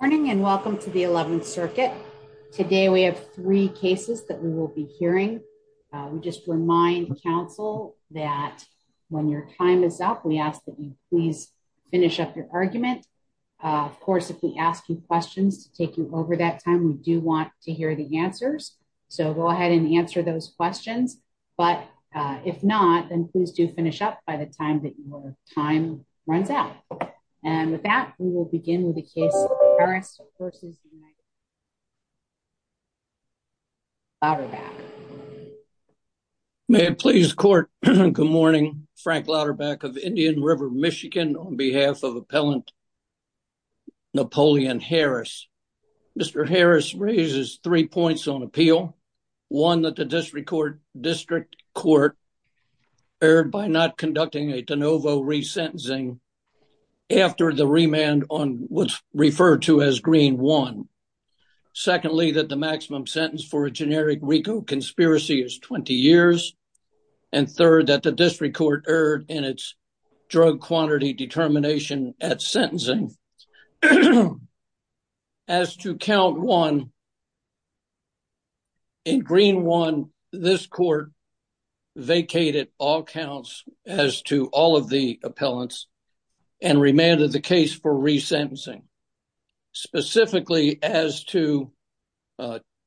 Morning and welcome to the 11th circuit. Today we have three cases that we will be hearing. We just remind counsel that when your time is up, we ask that you please finish up your argument. Of course, if we ask you questions to take you over that time, we do want to hear the answers. So go ahead and answer those questions. But if not, then please do finish up by the time that your time runs out. And with that, we will begin the case versus louder back. May it please court. Good morning, Frank louder back of Indian River, Michigan on behalf of appellant. Napoleon Harris. Mr. Harris raises three points on appeal. One that the district court district court erred by not conducting a de novo resentencing after the remand on what's referred to as green one. Secondly, that the maximum sentence for a generic RICO conspiracy is 20 years. And third that the district court erred in its drug quantity determination at sentencing. As to count one in green one, this court vacated all counts as to all of the appellants and remanded the case for resentencing. Specifically as to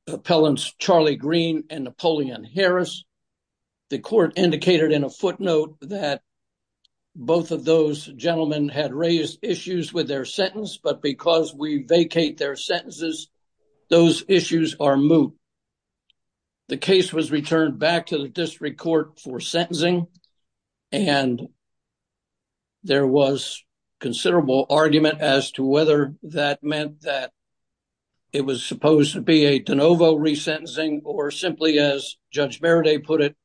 appellants Charlie green and Napoleon Harris. The court indicated in a footnote that both of those gentlemen had raised issues with their sentence, but because we vacate their sentences, those issues are moot. The case was returned back to the district court for sentencing. And there was considerable argument as to whether that meant that it was supposed to be a de novo resentencing or simply as Judge Verde put it,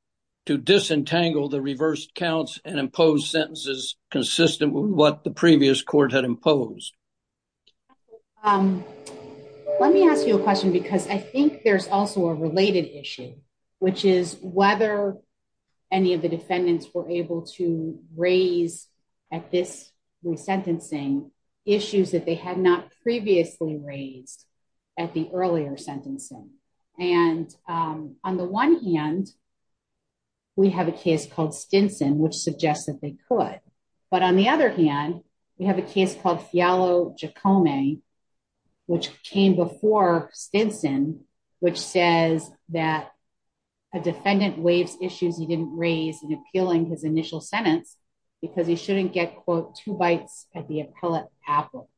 to disentangle the reverse counts and impose sentences consistent with what the previous court had imposed. Let me ask you a question because I think there's also a issue, which is whether any of the defendants were able to raise at this resentencing issues that they had not previously raised at the earlier sentencing. And on the one hand, we have a case called Stinson, which suggests that they could. But on the other hand, we have a case called Fialo Jacome, which came before Stinson, which says that a defendant waves issues he didn't raise in appealing his initial sentence, because he shouldn't get quote, two bites at the appellate apple,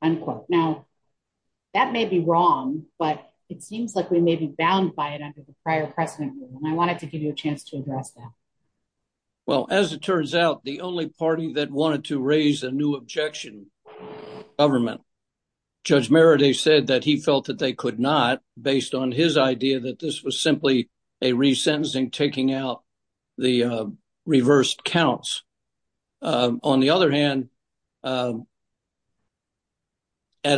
unquote. Now, that may be wrong, but it seems like we may be bound by it under the prior precedent. And I wanted to give you a chance to address that. Well, as it turns out, the only party that wanted to raise a new objection was the government. Judge Meredith said that he felt that they could not based on his idea that this was simply a resentencing taking out the reversed counts. On the other hand, at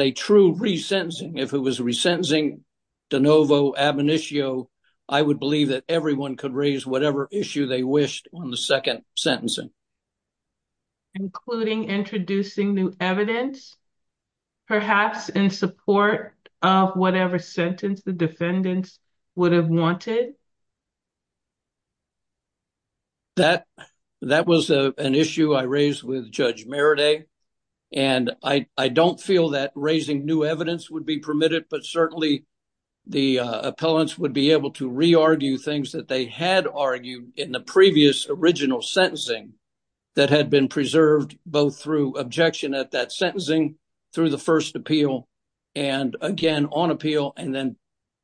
a true resentencing, if it was resentencing de novo ab initio, I would believe that everyone could raise whatever issue they wished on the second sentencing. Including introducing new evidence, perhaps in support of whatever sentence the defendants would have wanted? That was an issue I raised with Judge Meredith. And I don't feel that raising new evidence would be permitted, but certainly the appellants would be able to re-argue things that they had argued in the previous original sentencing that had been preserved both through objection at that sentencing, through the first appeal, and again on appeal. And then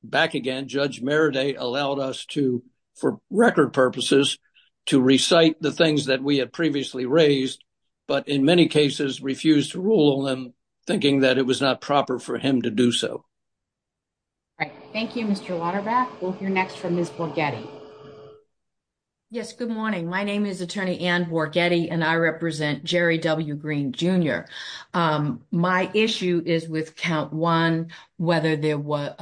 back again, Judge Meredith allowed us to, for record purposes, to recite the things that we had previously raised, but in many cases refused to rule on them, thinking that it was not proper for him to do so. Right. Thank you, Mr. Waterback. We'll hear next from Ms. Borghetti. Yes, good morning. My name is Attorney Ann Borghetti, and I represent Jerry W. Green, Jr. My issue is with count one, whether there was,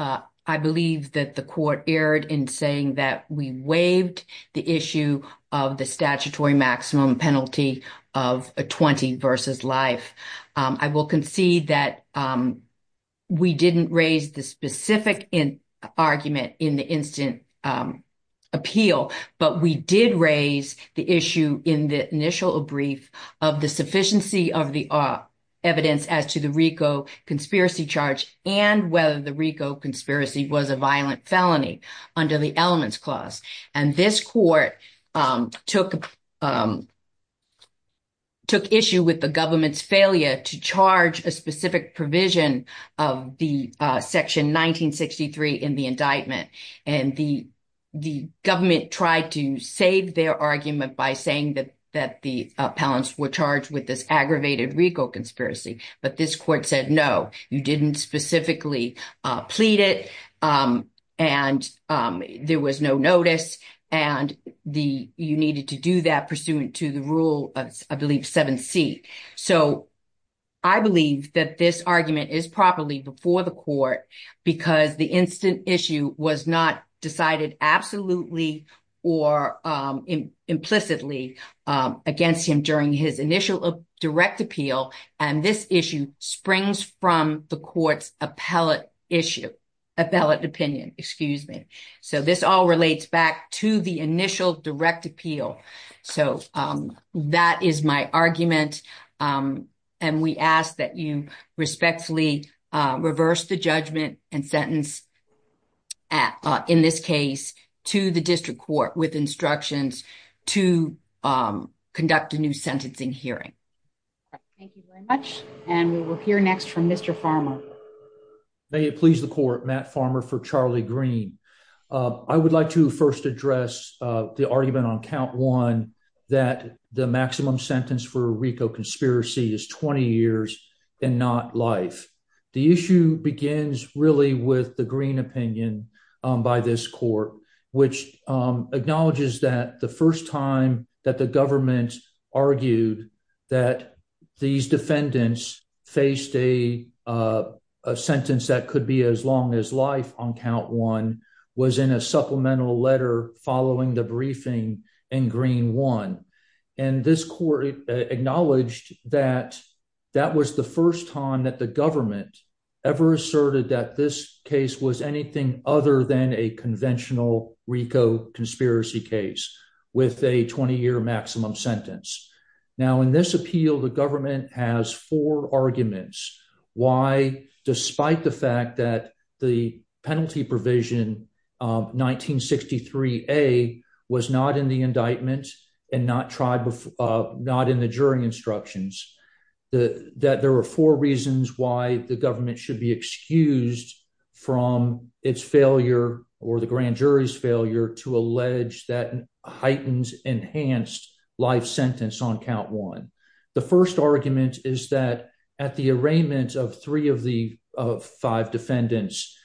I believe that the court erred in saying that we waived the issue of the statutory maximum penalty of a 20 versus life. I will concede that we didn't raise the specific argument in the instant appeal, but we did raise the issue in the initial brief of the sufficiency of the evidence as to the RICO conspiracy charge, and whether the RICO conspiracy was a violent felony under the elements clause. And this court took issue with the government's failure to charge a specific provision of the section 1963 in the indictment. And the government tried to save their argument by saying that the appellants were charged with this aggravated RICO conspiracy. But this court said, no, you didn't specifically plead it. And there was no notice. And you needed to do that pursuant to the rule of, I believe, 7C. So I believe that this argument is properly before the court because the instant issue was not decided absolutely or implicitly against him during his initial direct appeal. And this issue springs from the court's appellate opinion. So this all relates back to the initial direct appeal. So that is my argument. And we ask that you respectfully reverse the judgment and sentence in this case to the district court with instructions to conduct a new sentencing hearing. Thank you very much. And we will hear next from Mr. Farmer. May it please the court, Matt Farmer for Charlie Green. I would like to first address the argument on count one, that the RICO conspiracy is 20 years and not life. The issue begins really with the green opinion by this court, which acknowledges that the first time that the government argued that these defendants faced a sentence that could be as long as life on count one was in a supplemental letter following the briefing and green one. And this court acknowledged that that was the first time that the government ever asserted that this case was anything other than a conventional RICO conspiracy case with a 20 year maximum sentence. Now in this appeal, the government has four arguments. Why, despite the fact that the penalty provision 1963 a was not in the indictment and not tried before, not in the jury instructions, that there were four reasons why the government should be excused from its failure or the grand jury's failure to allege that heightens enhanced life sentence on count one. The first argument is that at the arraignment of three of the five defendants,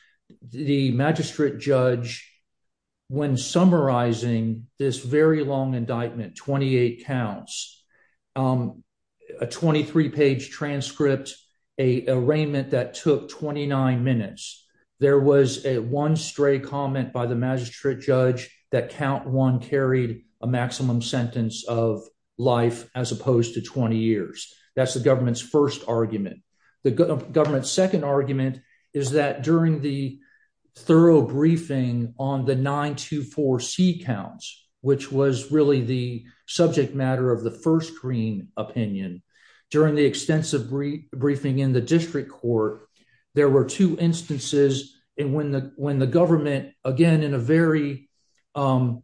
the magistrate judge, when summarizing this very long indictment, 28 counts, um, a 23 page transcript, a arraignment that took 29 minutes. There was a one stray comment by the magistrate judge that count one carried a maximum sentence of life as opposed to 20 years. That's the government's first argument. The government's second argument is that during the thorough briefing on the 924 C counts, which was really the subject matter of the first green opinion during the extensive brief briefing in the district court, there were two instances and when the when the government again in a very, um,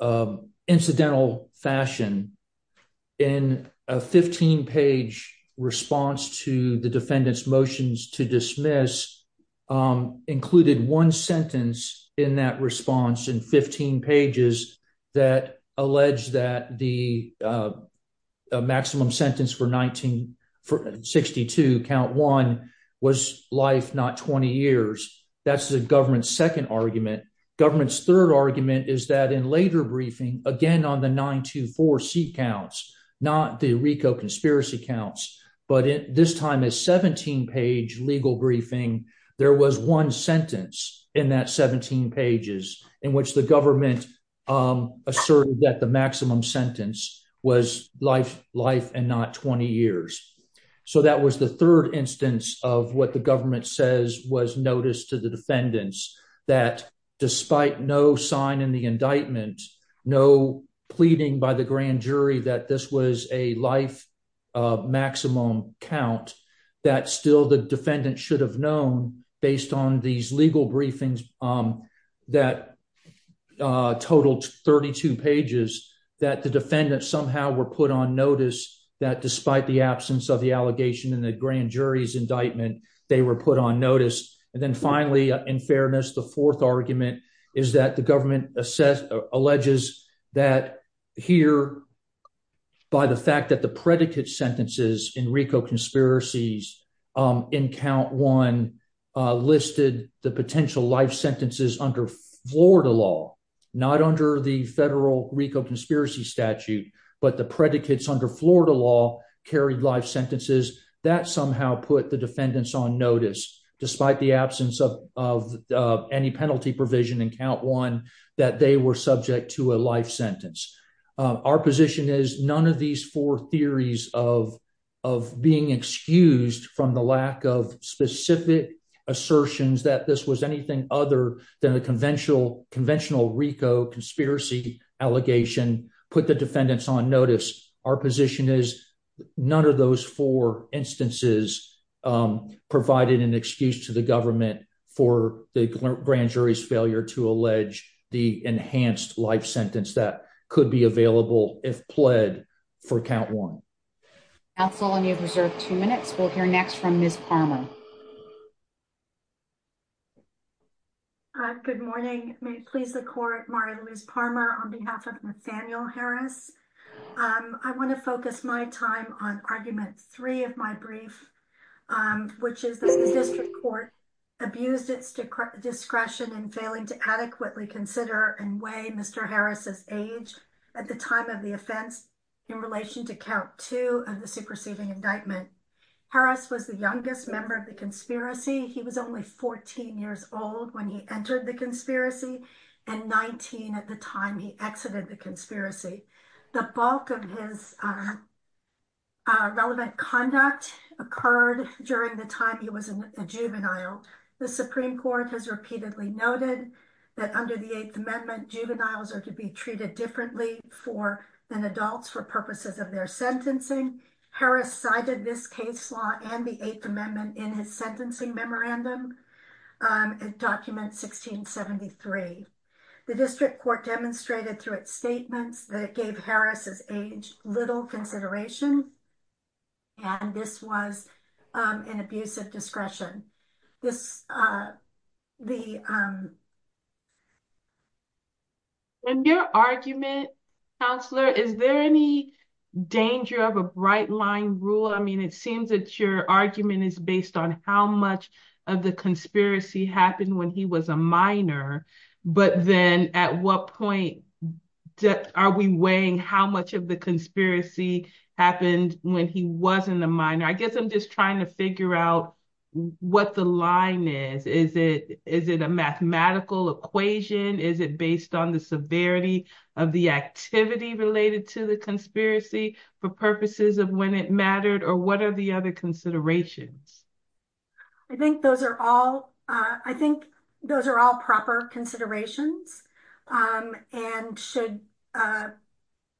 um, incidental fashion in a 15 page response to the defendant's motions to dismiss, um, included one sentence in that response in 15 pages that alleged that the, uh, maximum sentence for 19 for 62 count one was life, not 20 years. That's the government's second argument. Government's third argument is that in later briefing again on the 924 seat counts, not the Rico conspiracy counts, but this time is 17 page legal briefing. There was one sentence in that 17 pages in which the government, um, asserted that the maximum sentence was life, life and not 20 years. So that was the third instance of what the government says was noticed to the defendants that despite no sign in the indictment, no pleading by the grand jury that this was a life, uh, maximum count that still the defendant should have known based on these legal briefings, um, that, uh, totaled 32 pages that the defendant somehow were put on notice that despite the absence of the allegation in the grand jury's indictment, they were put on notice. And then finally, in fairness, the fourth argument is that the government assess alleges that here by the fact that the predicate sentences in Rico conspiracies, um, in count one listed the potential life sentences under Florida law, not under the federal Rico conspiracy statute, but the predicates under Florida law carried life sentences that somehow put the defendants on notice despite the absence of any penalty provision in count one that they were subject to a life sentence. Our position is none of these four theories of, of being excused from the lack of specific assertions that this was anything other than the conventional, conventional Rico conspiracy allegation put the defendants on notice. Our position is none of those four instances, um, provided an excuse to the government for the grand jury's failure to allege the enhanced life sentence that could be available if pled for count one. That's all. And you have reserved two minutes. We'll hear next from Ms. Palmer. Good morning. May it please the court. Mario Luis Palmer on behalf of Nathaniel Harris. Um, I want to focus my time on argument three of my brief, um, which is that the district court abused its discretion in failing to adequately consider and weigh Mr. Harris's age at the time of the offense in relation to count two of the superseding indictment. Harris was the youngest member of the conspiracy. He was only 14 years old when he entered the conspiracy and 19 at the time he exited the conspiracy. The bulk of his, uh, uh, relevant conduct occurred during the time he was a juvenile. The Supreme Court has repeatedly noted that under the eighth amendment, juveniles are to be treated differently for than adults for purposes of their sentencing. Harris cited this case law and the eighth amendment in his sentencing memorandum. Um, it was the eighth amendment of document 1673. The district court demonstrated through its statements that it gave Harris his age, little consideration, and this was, um, an abusive discretion. This, uh, the, um, and your argument counselor, is there any danger of a bright line rule? I mean, it seems that your argument is based on how much of the conspiracy happened when he was a minor, but then at what point are we weighing how much of the conspiracy happened when he wasn't a minor? I guess I'm just trying to figure out what the line is. Is it, is it a mathematical equation? Is it based on the severity of the activity related to the conspiracy for purposes of when it mattered or what are the considerations? I think those are all, uh, I think those are all proper considerations. Um, and should, uh,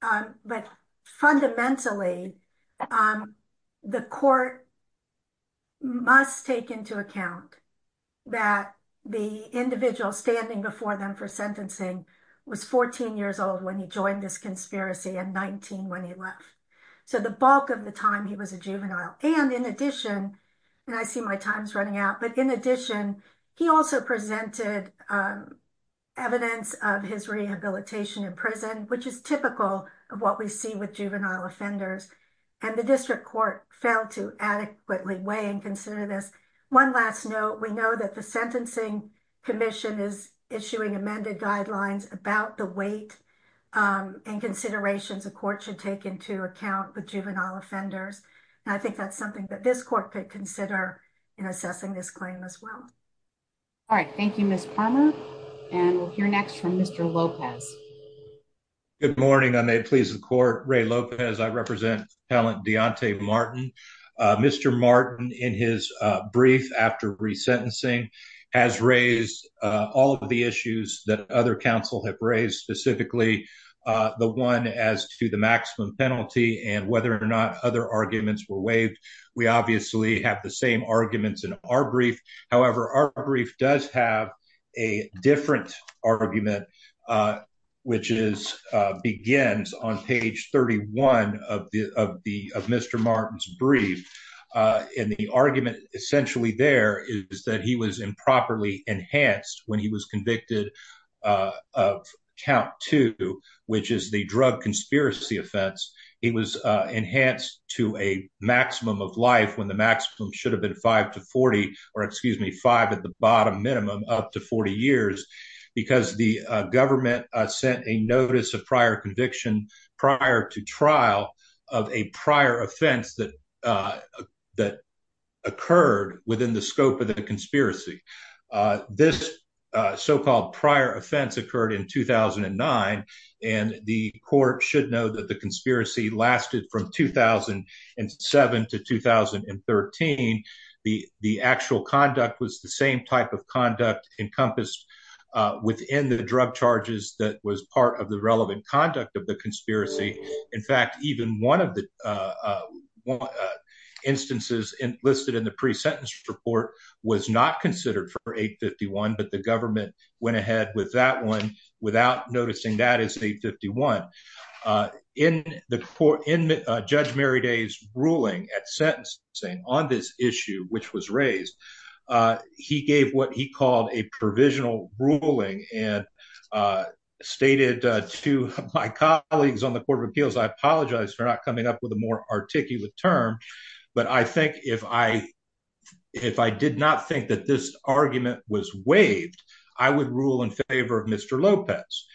um, but fundamentally, um, the court must take into account that the individual standing before them for sentencing was 14 years old when he joined this conspiracy and 19 when he left. So the bulk of the time he was a juvenile. And in addition, and I see my time's running out, but in addition, he also presented, um, evidence of his rehabilitation in prison, which is typical of what we see with juvenile offenders. And the district court failed to adequately weigh and consider this one last note. We know that the sentencing commission is issuing amended guidelines about the weight, um, and considerations of court should take into account with juvenile offenders. And I think that's something that this court could consider in assessing this claim as well. All right. Thank you, Miss Parma. And we'll hear next from Mr Lopez. Good morning. I may please the court. Ray Lopez. I represent talent. Deontay Martin. Uh, Mr Martin, in his brief after resentencing has raised all of the issues that other council have raised specifically, uh, the one as to the maximum penalty and whether or not other arguments were waived. We obviously have the same arguments in our brief. However, our brief does have a different argument, uh, which is, uh, begins on page 31 of the, of the, of Mr. Martin's brief. Uh, and the argument essentially there is that he was improperly enhanced when he was convicted of count to which is the drug conspiracy offense. It was enhanced to a maximum of life when the maximum should have been 5 to 40 or excuse me, five at the bottom minimum up to 40 years because the government sent a notice of prior conviction prior to trial of a prior offense that, uh, that occurred within the scope of the conspiracy. Uh, this, uh, so called prior offense occurred in 2009. And the court should know that the conspiracy lasted from 2007 to 2013. The, the actual conduct was the same type of conduct encompassed, uh, within the drug charges that was part of the relevant conduct of the conspiracy. In fact, even one of the, uh, uh, instances in listed in the pre sentence report was not considered for eight 51, but the government went ahead with that one without noticing that it's the 51, uh, in the court, in, uh, judge Mary day's ruling at sentence saying on this issue, which was raised, uh, he gave what he called a provisional ruling and, uh, stated, uh, to my colleagues on the court of appeals. I apologize for not coming up with a more articulate term, but I think if I, if I did not think that this argument was waived, I would rule in favor of mr. Lopez.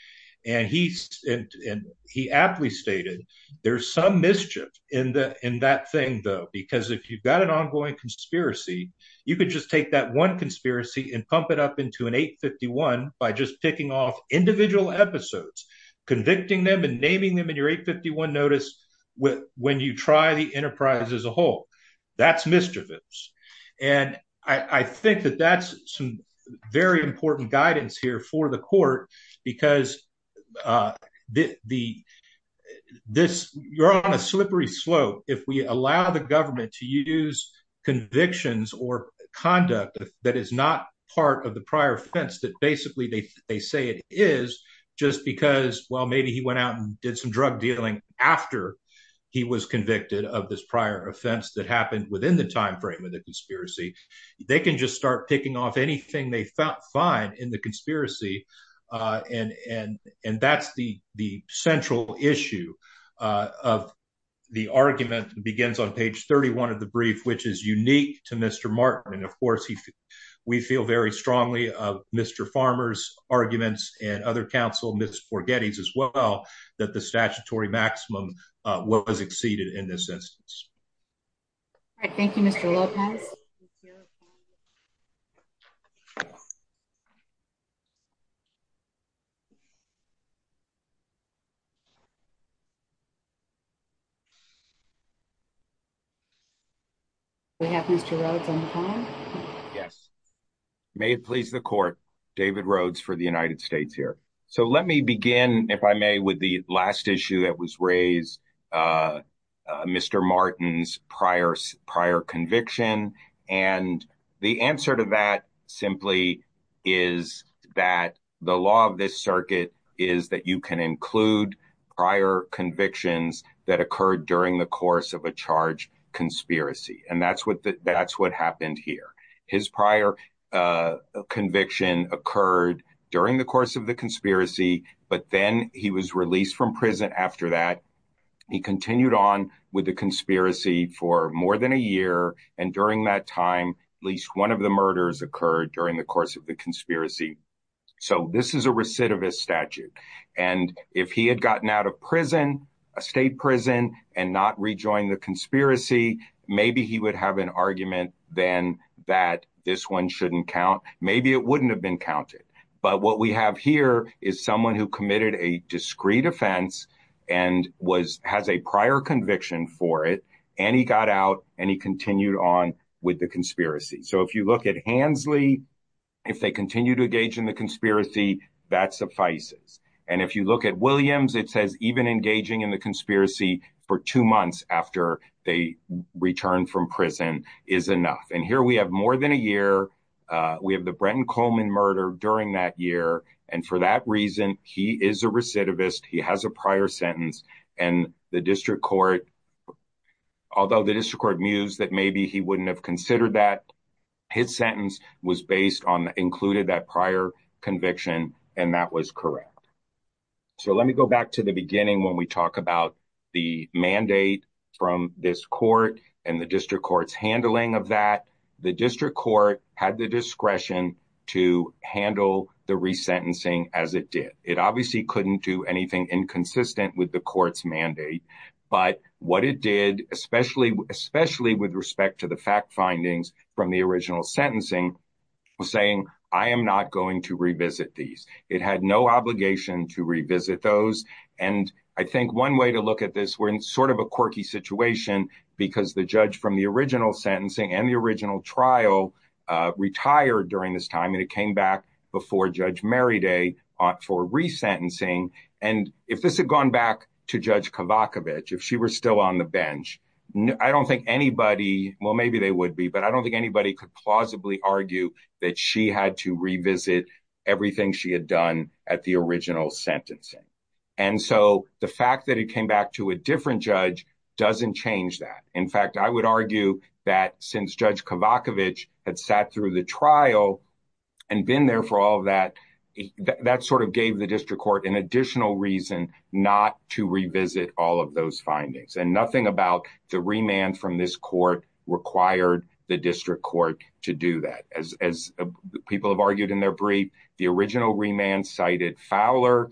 And he, and he aptly stated there's some mischief in the, in that thing though, because if you've got an ongoing conspiracy, you could just take that one conspiracy and pump it up into an eight 51 by just picking off individual episodes, convicting them and naming them in your eight 51 notice with when you try the enterprise as a whole, that's mischievous. And I think that that's some very important guidance here for the court because, uh, the, the, this you're on a slippery slope. If we allow the government to use convictions or conduct that is not part of the prior offense, that basically they say it is just because, well, maybe he went out and did some drug dealing after he was convicted of this prior offense that happened within the timeframe of the conspiracy. They can just start picking off anything they felt fine in the conspiracy. Uh, and, and, and that's the, the central issue, uh, of the argument begins on page 31 of the brief, which is unique to mr. Martin. And of course he, we feel very strongly of mr. Farmer's arguments and other counsel, miss for Gettys as well, that the statutory maximum, uh, what was exceeded in this instance. All right. Thank you, mr. Lopez. We have mr. Rhodes on the phone. Yes. May it please the court, David Rhodes for the United States here. So let me begin if I may, with the last issue that was raised, uh, uh, mr. Martin's prior conviction. And the answer to that simply is that the law of this circuit is that you can include prior convictions that occurred during the course of a charge conspiracy. And that's what the, that's what happened here. His prior, uh, conviction occurred during the course of the conspiracy, but then he was released from prison. After that, he continued on with the conspiracy for more than a year. And during that time, at least one of the murders occurred during the course of the conspiracy. So this is a recidivist statute. And if he had gotten out of prison, a state prison and not rejoin the conspiracy, maybe he would have an argument then that this one shouldn't count. Maybe it wouldn't have been counted, but what we have here is someone who committed a discreet offense and was, has a prior conviction for it. And he got out and he continued on with the conspiracy. So if you look at Hansley, if they continue to engage in the conspiracy, that suffices. And if you look at Williams, it says even engaging in the conspiracy for two months after they returned from prison is enough. And here we have more than a year. Uh, we have the Brenton Coleman murder during that year. And for that reason, he is a recidivist. He has a prior sentence and the district court, although the district court mused that maybe he wouldn't have considered that his sentence was based on included that prior conviction. And that was correct. So let me go back to the beginning. When we talk about the mandate from this court and the district court's handling of that, the district court had the discretion to handle the sentencing as it did. It obviously couldn't do anything inconsistent with the court's mandate, but what it did, especially, especially with respect to the fact findings from the original sentencing was saying, I am not going to revisit these. It had no obligation to revisit those. And I think one way to look at this, we're in sort of a quirky situation because the judge from the original sentencing and the original trial, uh, retired during this time. And it came back before judge Mary day for resentencing. And if this had gone back to judge Kavakovich, if she were still on the bench, I don't think anybody, well, maybe they would be, but I don't think anybody could plausibly argue that she had to revisit everything she had done at the original sentencing. And so the fact that it came back to a different judge doesn't change that. In fact, I would argue that since judge Kavakovich had that through the trial and been there for all of that, that sort of gave the district court an additional reason not to revisit all of those findings and nothing about the remand from this court required the district court to do that. As, as people have argued in their brief, the original remand cited Fowler.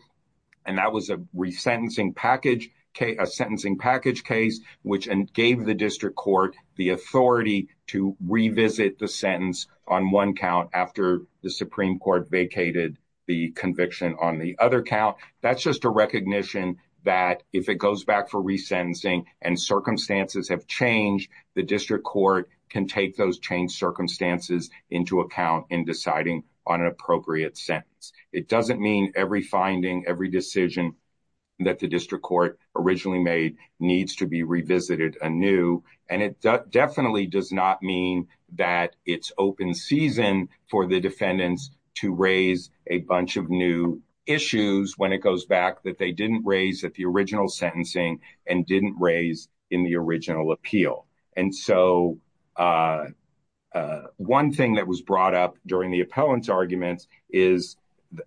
And that was a resentencing package, a sentencing package case, which gave the district court the authority to revisit the sentence on one count after the Supreme court vacated the conviction on the other count. That's just a recognition that if it goes back for resentencing and circumstances have changed, the district court can take those changed circumstances into account in deciding on an appropriate sentence. It doesn't mean every finding, every decision that the district court originally made needs to be revisited anew. And it definitely does not mean that it's open season for the defendants to raise a bunch of new issues when it goes back that they didn't raise at the original sentencing and didn't raise in the original appeal. And so, uh, uh, one thing that was brought up during the appellants arguments is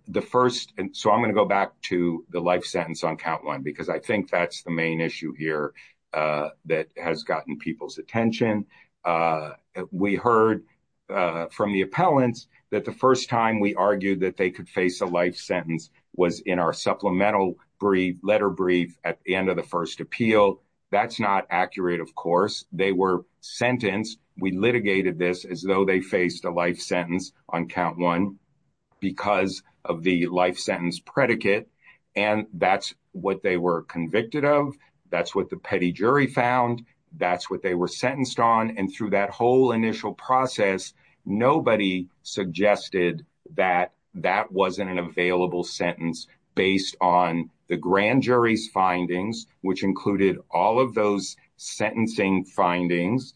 the first. And so I'm going to go back to the life sentence on count one, because I think that's the main issue here, uh, that has gotten people's attention. Uh, we heard, uh, from the appellants that the first time we argued that they could face a life sentence was in our supplemental brief letter brief at the end of the first appeal. That's not accurate. Of course, they were sentenced. We litigated this as though they faced a life sentence on count one because of the life sentence predicate. And that's what they were convicted of. That's what the petty jury found. That's what they were sentenced on. And through that whole initial process, nobody suggested that that wasn't an available sentence based on the grand jury's findings, which included all of those sentencing findings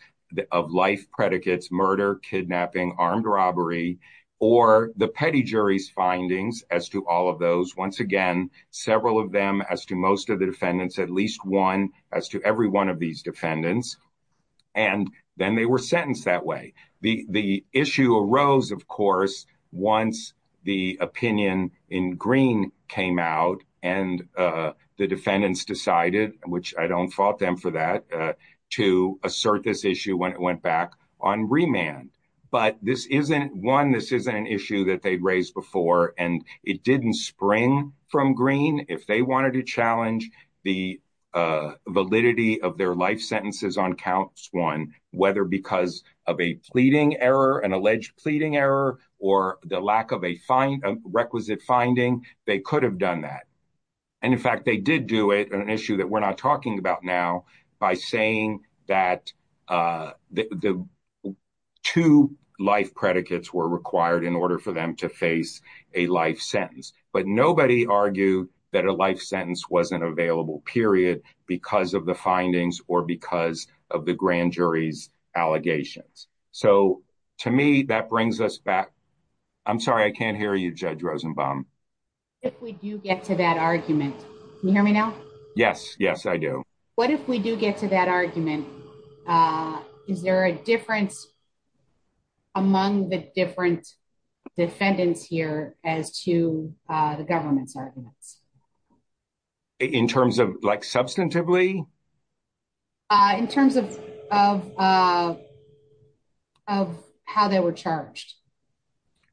of life predicates, murder, kidnapping, armed robbery, or the petty jury's findings as to all of those. Once again, several of them as to most of the defendants, at least one as to every one of these defendants. And then they were sentenced that way. The issue arose, of course, once the opinion in green came out and the defendants decided, which I don't fault them for that, to assert this issue when it went back on remand. But this isn't one, this isn't an issue that they'd raised before. And it didn't spring from green if they wanted to challenge the, uh, validity of their life sentences on counts one, whether because of a pleading error, an alleged pleading error, or the lack of a fine requisite finding, they could have done that. And in fact, they did do it on an issue that we're not talking about now, by saying that the two life predicates were required in order for them to face a life sentence. But nobody argued that a life sentence wasn't available, period, because of the findings or because of the grand jury's allegations. So to me, that brings us back. I'm sorry, I can't hear you, Judge Rosenbaum. If we do get to that argument, you hear me now? Yes, yes, I do. What if we do get to that argument? Is there a difference among the different defendants here as to the government's arguments? In terms of like substantively? In terms of how they were charged?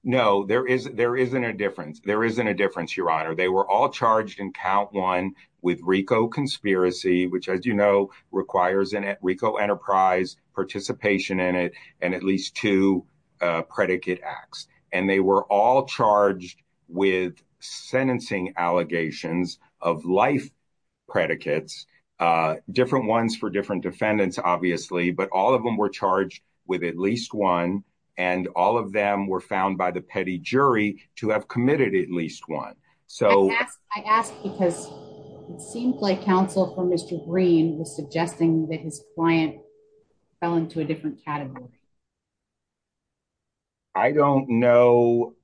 No, there isn't a difference. There isn't a difference, Your Honor. They were all charged in count one with RICO conspiracy, which, as you know, requires a RICO enterprise participation in it, and at least two predicate acts. And they were all charged with sentencing allegations of life predicates, different ones for different defendants, obviously, but all of them were charged with at least one. And all of them were found by the petty jury to have committed at least one. So I asked because it seemed like counsel for Mr. Green was suggesting that his client fell into a different category. I don't know.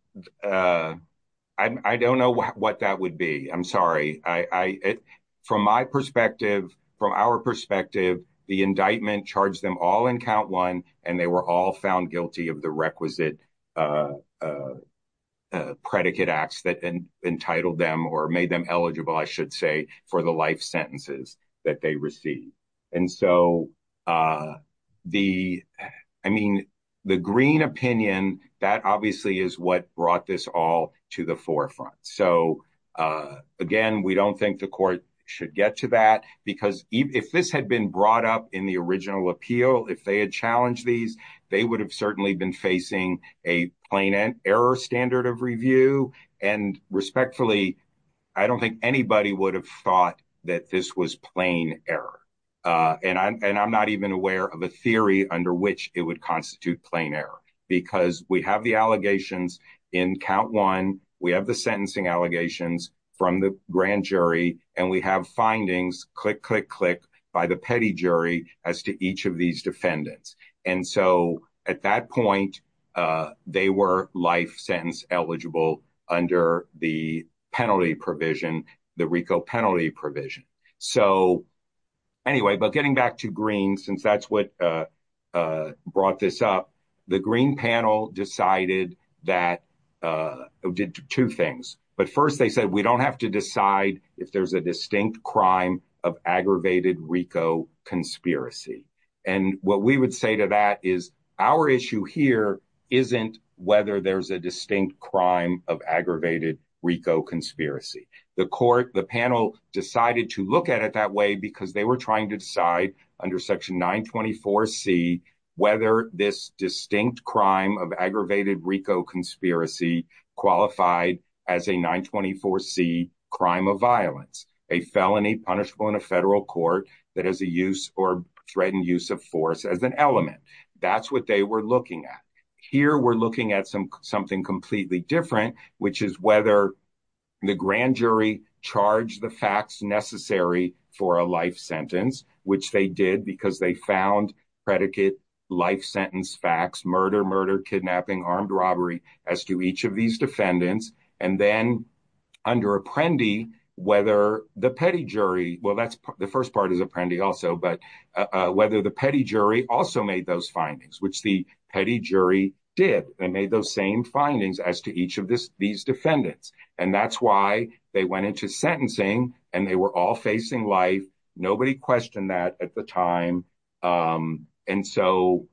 I don't know what that would be. I'm sorry. I, from my perspective, from our perspective, the indictment charged them all in count one, and they were all found guilty of the requisite predicate acts that entitled them or made them eligible, I should say, for the life sentences that they received. And so the, I mean, the Green opinion, that obviously is what brought this all to the forefront. So again, we don't think the court should get to that. Because if this had been brought up in the original appeal, if they had challenged these, they would have certainly been facing a plain error standard of review. And respectfully, I don't think anybody would have thought that this was plain error. And I'm not even aware of a theory under which it would constitute plain error, because we have the allegations in count one, we have the sentencing allegations from the grand jury, and we have findings click, click, click by the petty jury as to each of these defendants. And so at that point, they were life sentence eligible under the penalty provision, the RICO penalty provision. So anyway, but getting back to green, since that's what brought this up, the Green panel decided that did two things. But first, they said, we don't have to decide if there's a distinct crime of aggravated RICO conspiracy. And what we would say to that is, our issue here isn't whether there's a distinct crime of aggravated RICO conspiracy, the court, the panel decided to look at it that way, because they were trying to decide under Section 924. C, whether this distinct crime of aggravated RICO conspiracy qualified as a 924. C crime of violence, a felony punishable in a federal court that has a use or threatened use of force as an element. That's what they were looking at. Here, we're looking at some something completely different, which is whether the grand jury charged the facts necessary for a life sentence, which they did, because they found predicate life sentence facts, murder, murder, kidnapping, armed robbery, as to each of these defendants. And then under Apprendi, whether the petty jury, well, that's the first part is Apprendi also, but whether the petty jury also made those findings, which the petty jury did, they made those same findings as to each of these defendants. And that's why they went into sentencing, and they were all facing life. Nobody questioned that at the time. And so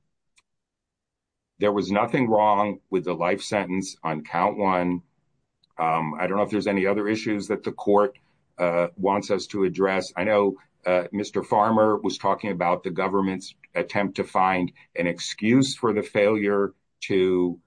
there was nothing wrong with the life sentence on count one. I don't know if there's any other issues that the court wants us to address. I know, Mr. Farmer was talking about the government's attempt to find an excuse for the failure to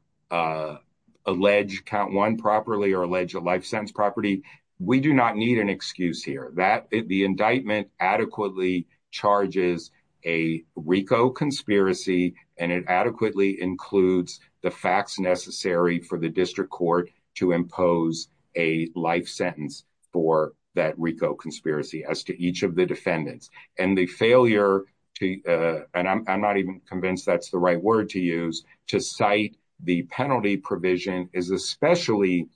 allege count one properly or allege a life sentence property. We do not need an excuse here that the indictment adequately charges a RICO conspiracy, and it adequately includes the facts necessary for the district court to impose a life sentence for that RICO conspiracy as to each of the defendants. And the failure to, and I'm not even convinced that's the right word to use, to cite the penalty provision is especially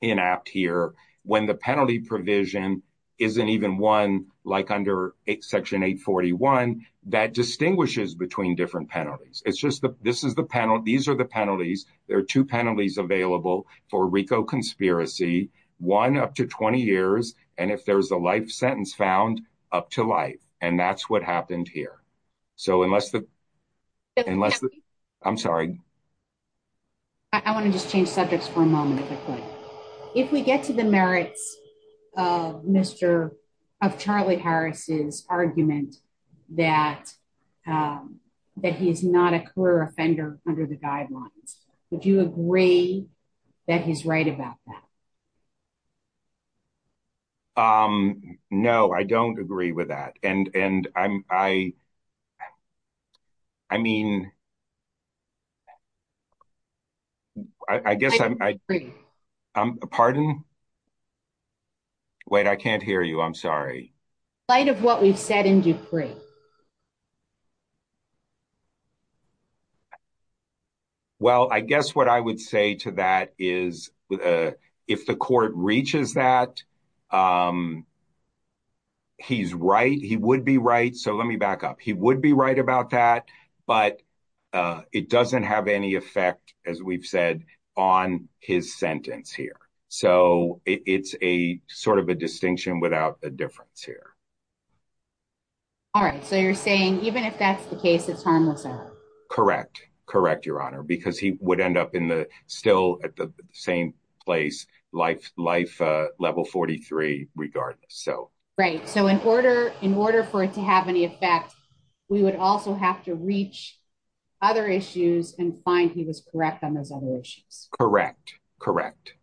inapt here, when the penalty provision isn't even one like under Section 841, that distinguishes between different penalties. It's just that this is the penalty. These are the penalties. There are two penalties available for RICO conspiracy, one up to 20 years. And if there's a life sentence found up to life, and that's what happened here. So unless the, unless the, I'm sorry. I want to just change subjects for a moment. If we get to the merits of Mr. of Charlie Harris's argument that that he is not a career offender under the guidelines, would you agree that he's right about that? Um, no, I don't agree with that. And, and I, I mean, I guess I'm I agree. I'm a pardon. Wait, I can't hear you. I'm sorry. Light of what we've said in Dupree. Well, I guess what I would say to that is, if the court reaches that, um, he's right. He would be right. So let me back up. He would be right about that, but, uh, it doesn't have any effect as we've said on his sentence here. So it's a sort of a distinction without a difference here. All right. So you're saying even if that's the case, it's harmless. Correct. Correct. Your honor, because he would end up in the still at the same place, life, life, uh, level 43 regardless. So, right. So in order, in order for it to have any effect, we would also have to reach other issues and find he was correct on those other issues. Correct. Correct.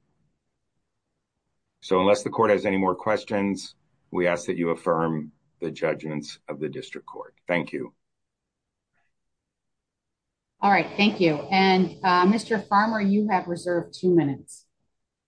So unless the court has any more questions, we ask that you affirm the judgments of the district court. Thank you. All right. Thank you. And, uh, Mr Farmer, you have reserved two minutes.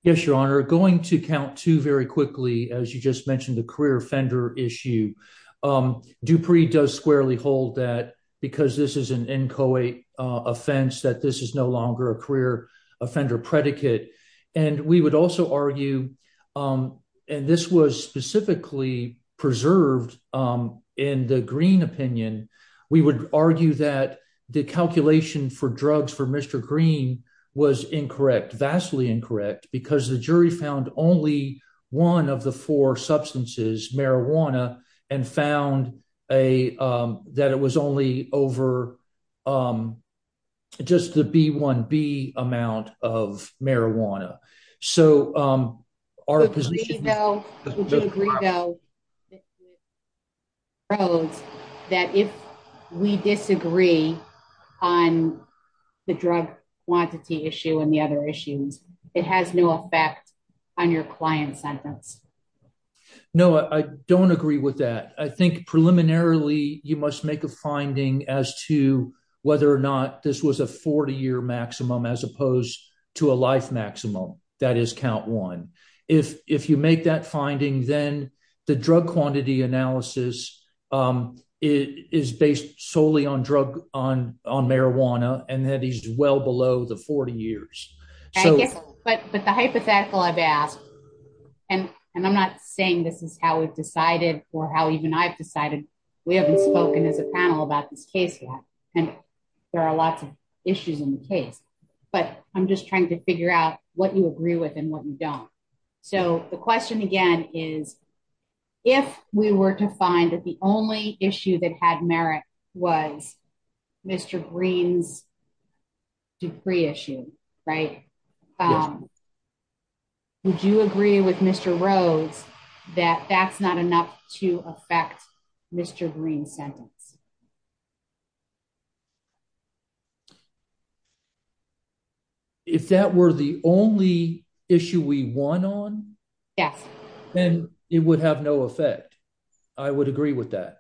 Yes, your honor. Going to count to very quickly as you just mentioned the career offender issue. Um, Dupree does squarely hold that because this is an inchoate offense that this is no longer a career offender predicate. And we would also argue, um, and this was specifically preserved, um, in the green opinion, we would argue that the calculation for drugs for Mr Green was incorrect. Vastly incorrect because the jury found only one of the four substances, marijuana and found a, um, that it was only over, um, just the B one B amount of marijuana. So, um, our position now, would you agree, though? Rhodes that if we disagree on the drug quantity issue and the other issues, it has no effect on your client sentence. No, I don't agree with that. I think preliminarily you must make a finding as to whether or not this was a 40 year maximum as opposed to a life maximum. That is count one. If if you make that finding, then the drug quantity analysis, um, is based solely on drug on on marijuana, and that he's well below the 40 years. But the hypothetical I've asked, and I'm not saying this is how we've decided or how even I've decided. We haven't spoken as a panel about this case yet, and there are lots of issues in the case, but I'm just trying to figure out what you agree with and what you don't. So the question again is if we were to find that the only issue that had merit was Mr Green's decree issue, right? Um, would you agree with Mr Rhodes that that's not enough to affect Mr Green sentence? Yes. If that were the only issue we won on, yes, then it would have no effect. I would agree with that.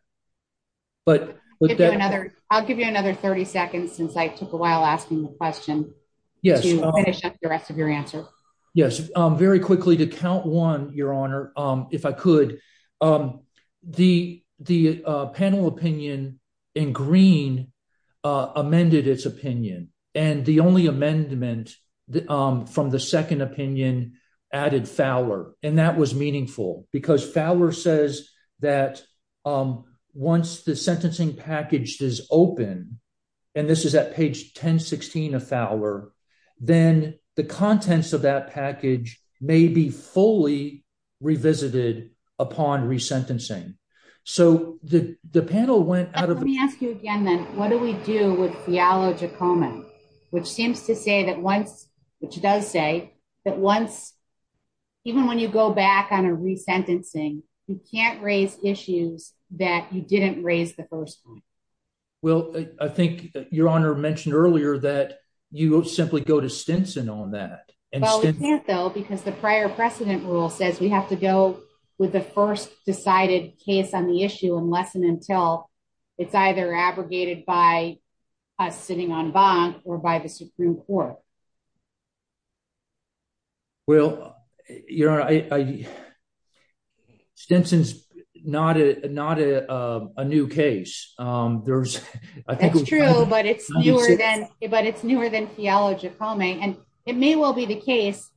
But I'll give you another 30 seconds since I took a while asking the question. Yes, the rest of your answer. Yes. Very quickly to count one, Your could. Um, the panel opinion in green amended its opinion, and the only amendment from the second opinion added Fowler, and that was meaningful because Fowler says that once the sentencing package is open, and this is at page 10 16 of Fowler, then the contents of that package may be fully revisited upon resentencing. So the panel went out of me. Ask you again, then what do we do with theologic common, which seems to say that once which does say that once even when you go back on a resentencing, you can't raise issues that you didn't raise the first one. Well, I think your honor mentioned earlier that you will simply go to Stinson on that, though, because the prior precedent rule says we have to go with the first decided case on the issue unless and until it's either abrogated by sitting on bond or by the Supreme Court. Well, your idea. Stinson's not a not a new case. Um, there's a true, but it's newer than it, but it's newer than theologic homing, and it may well be the case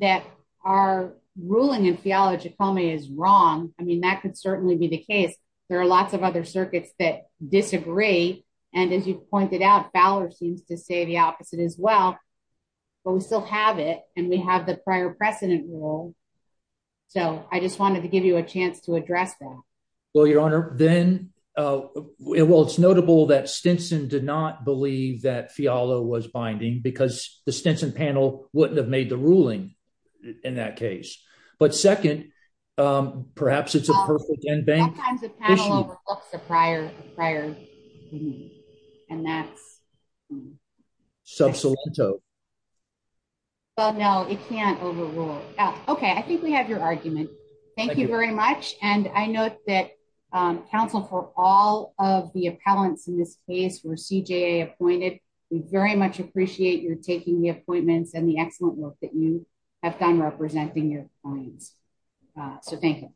that are ruling in theological me is wrong. I mean, that could certainly be the case. There are lots of other circuits that disagree. And as you pointed out, Fowler seems to say the opposite as well. But we still have it, and we have the prior precedent rule. So I just wanted to give you a chance to address that. Well, your honor, then, uh, well, it's notable that Stinson did not believe that Fiala was binding because the Stinson panel wouldn't have made the ruling in that case. But second, perhaps it's a perfect and bank times a panel over looks a prior prior. And that's substantial. Well, no, it can't overrule. Okay, I think we have your Thank you very much. And I note that counsel for all of the appellants in this case were CJA appointed. We very much appreciate your taking the appointments and the excellent work that you have done representing your points. So thank you.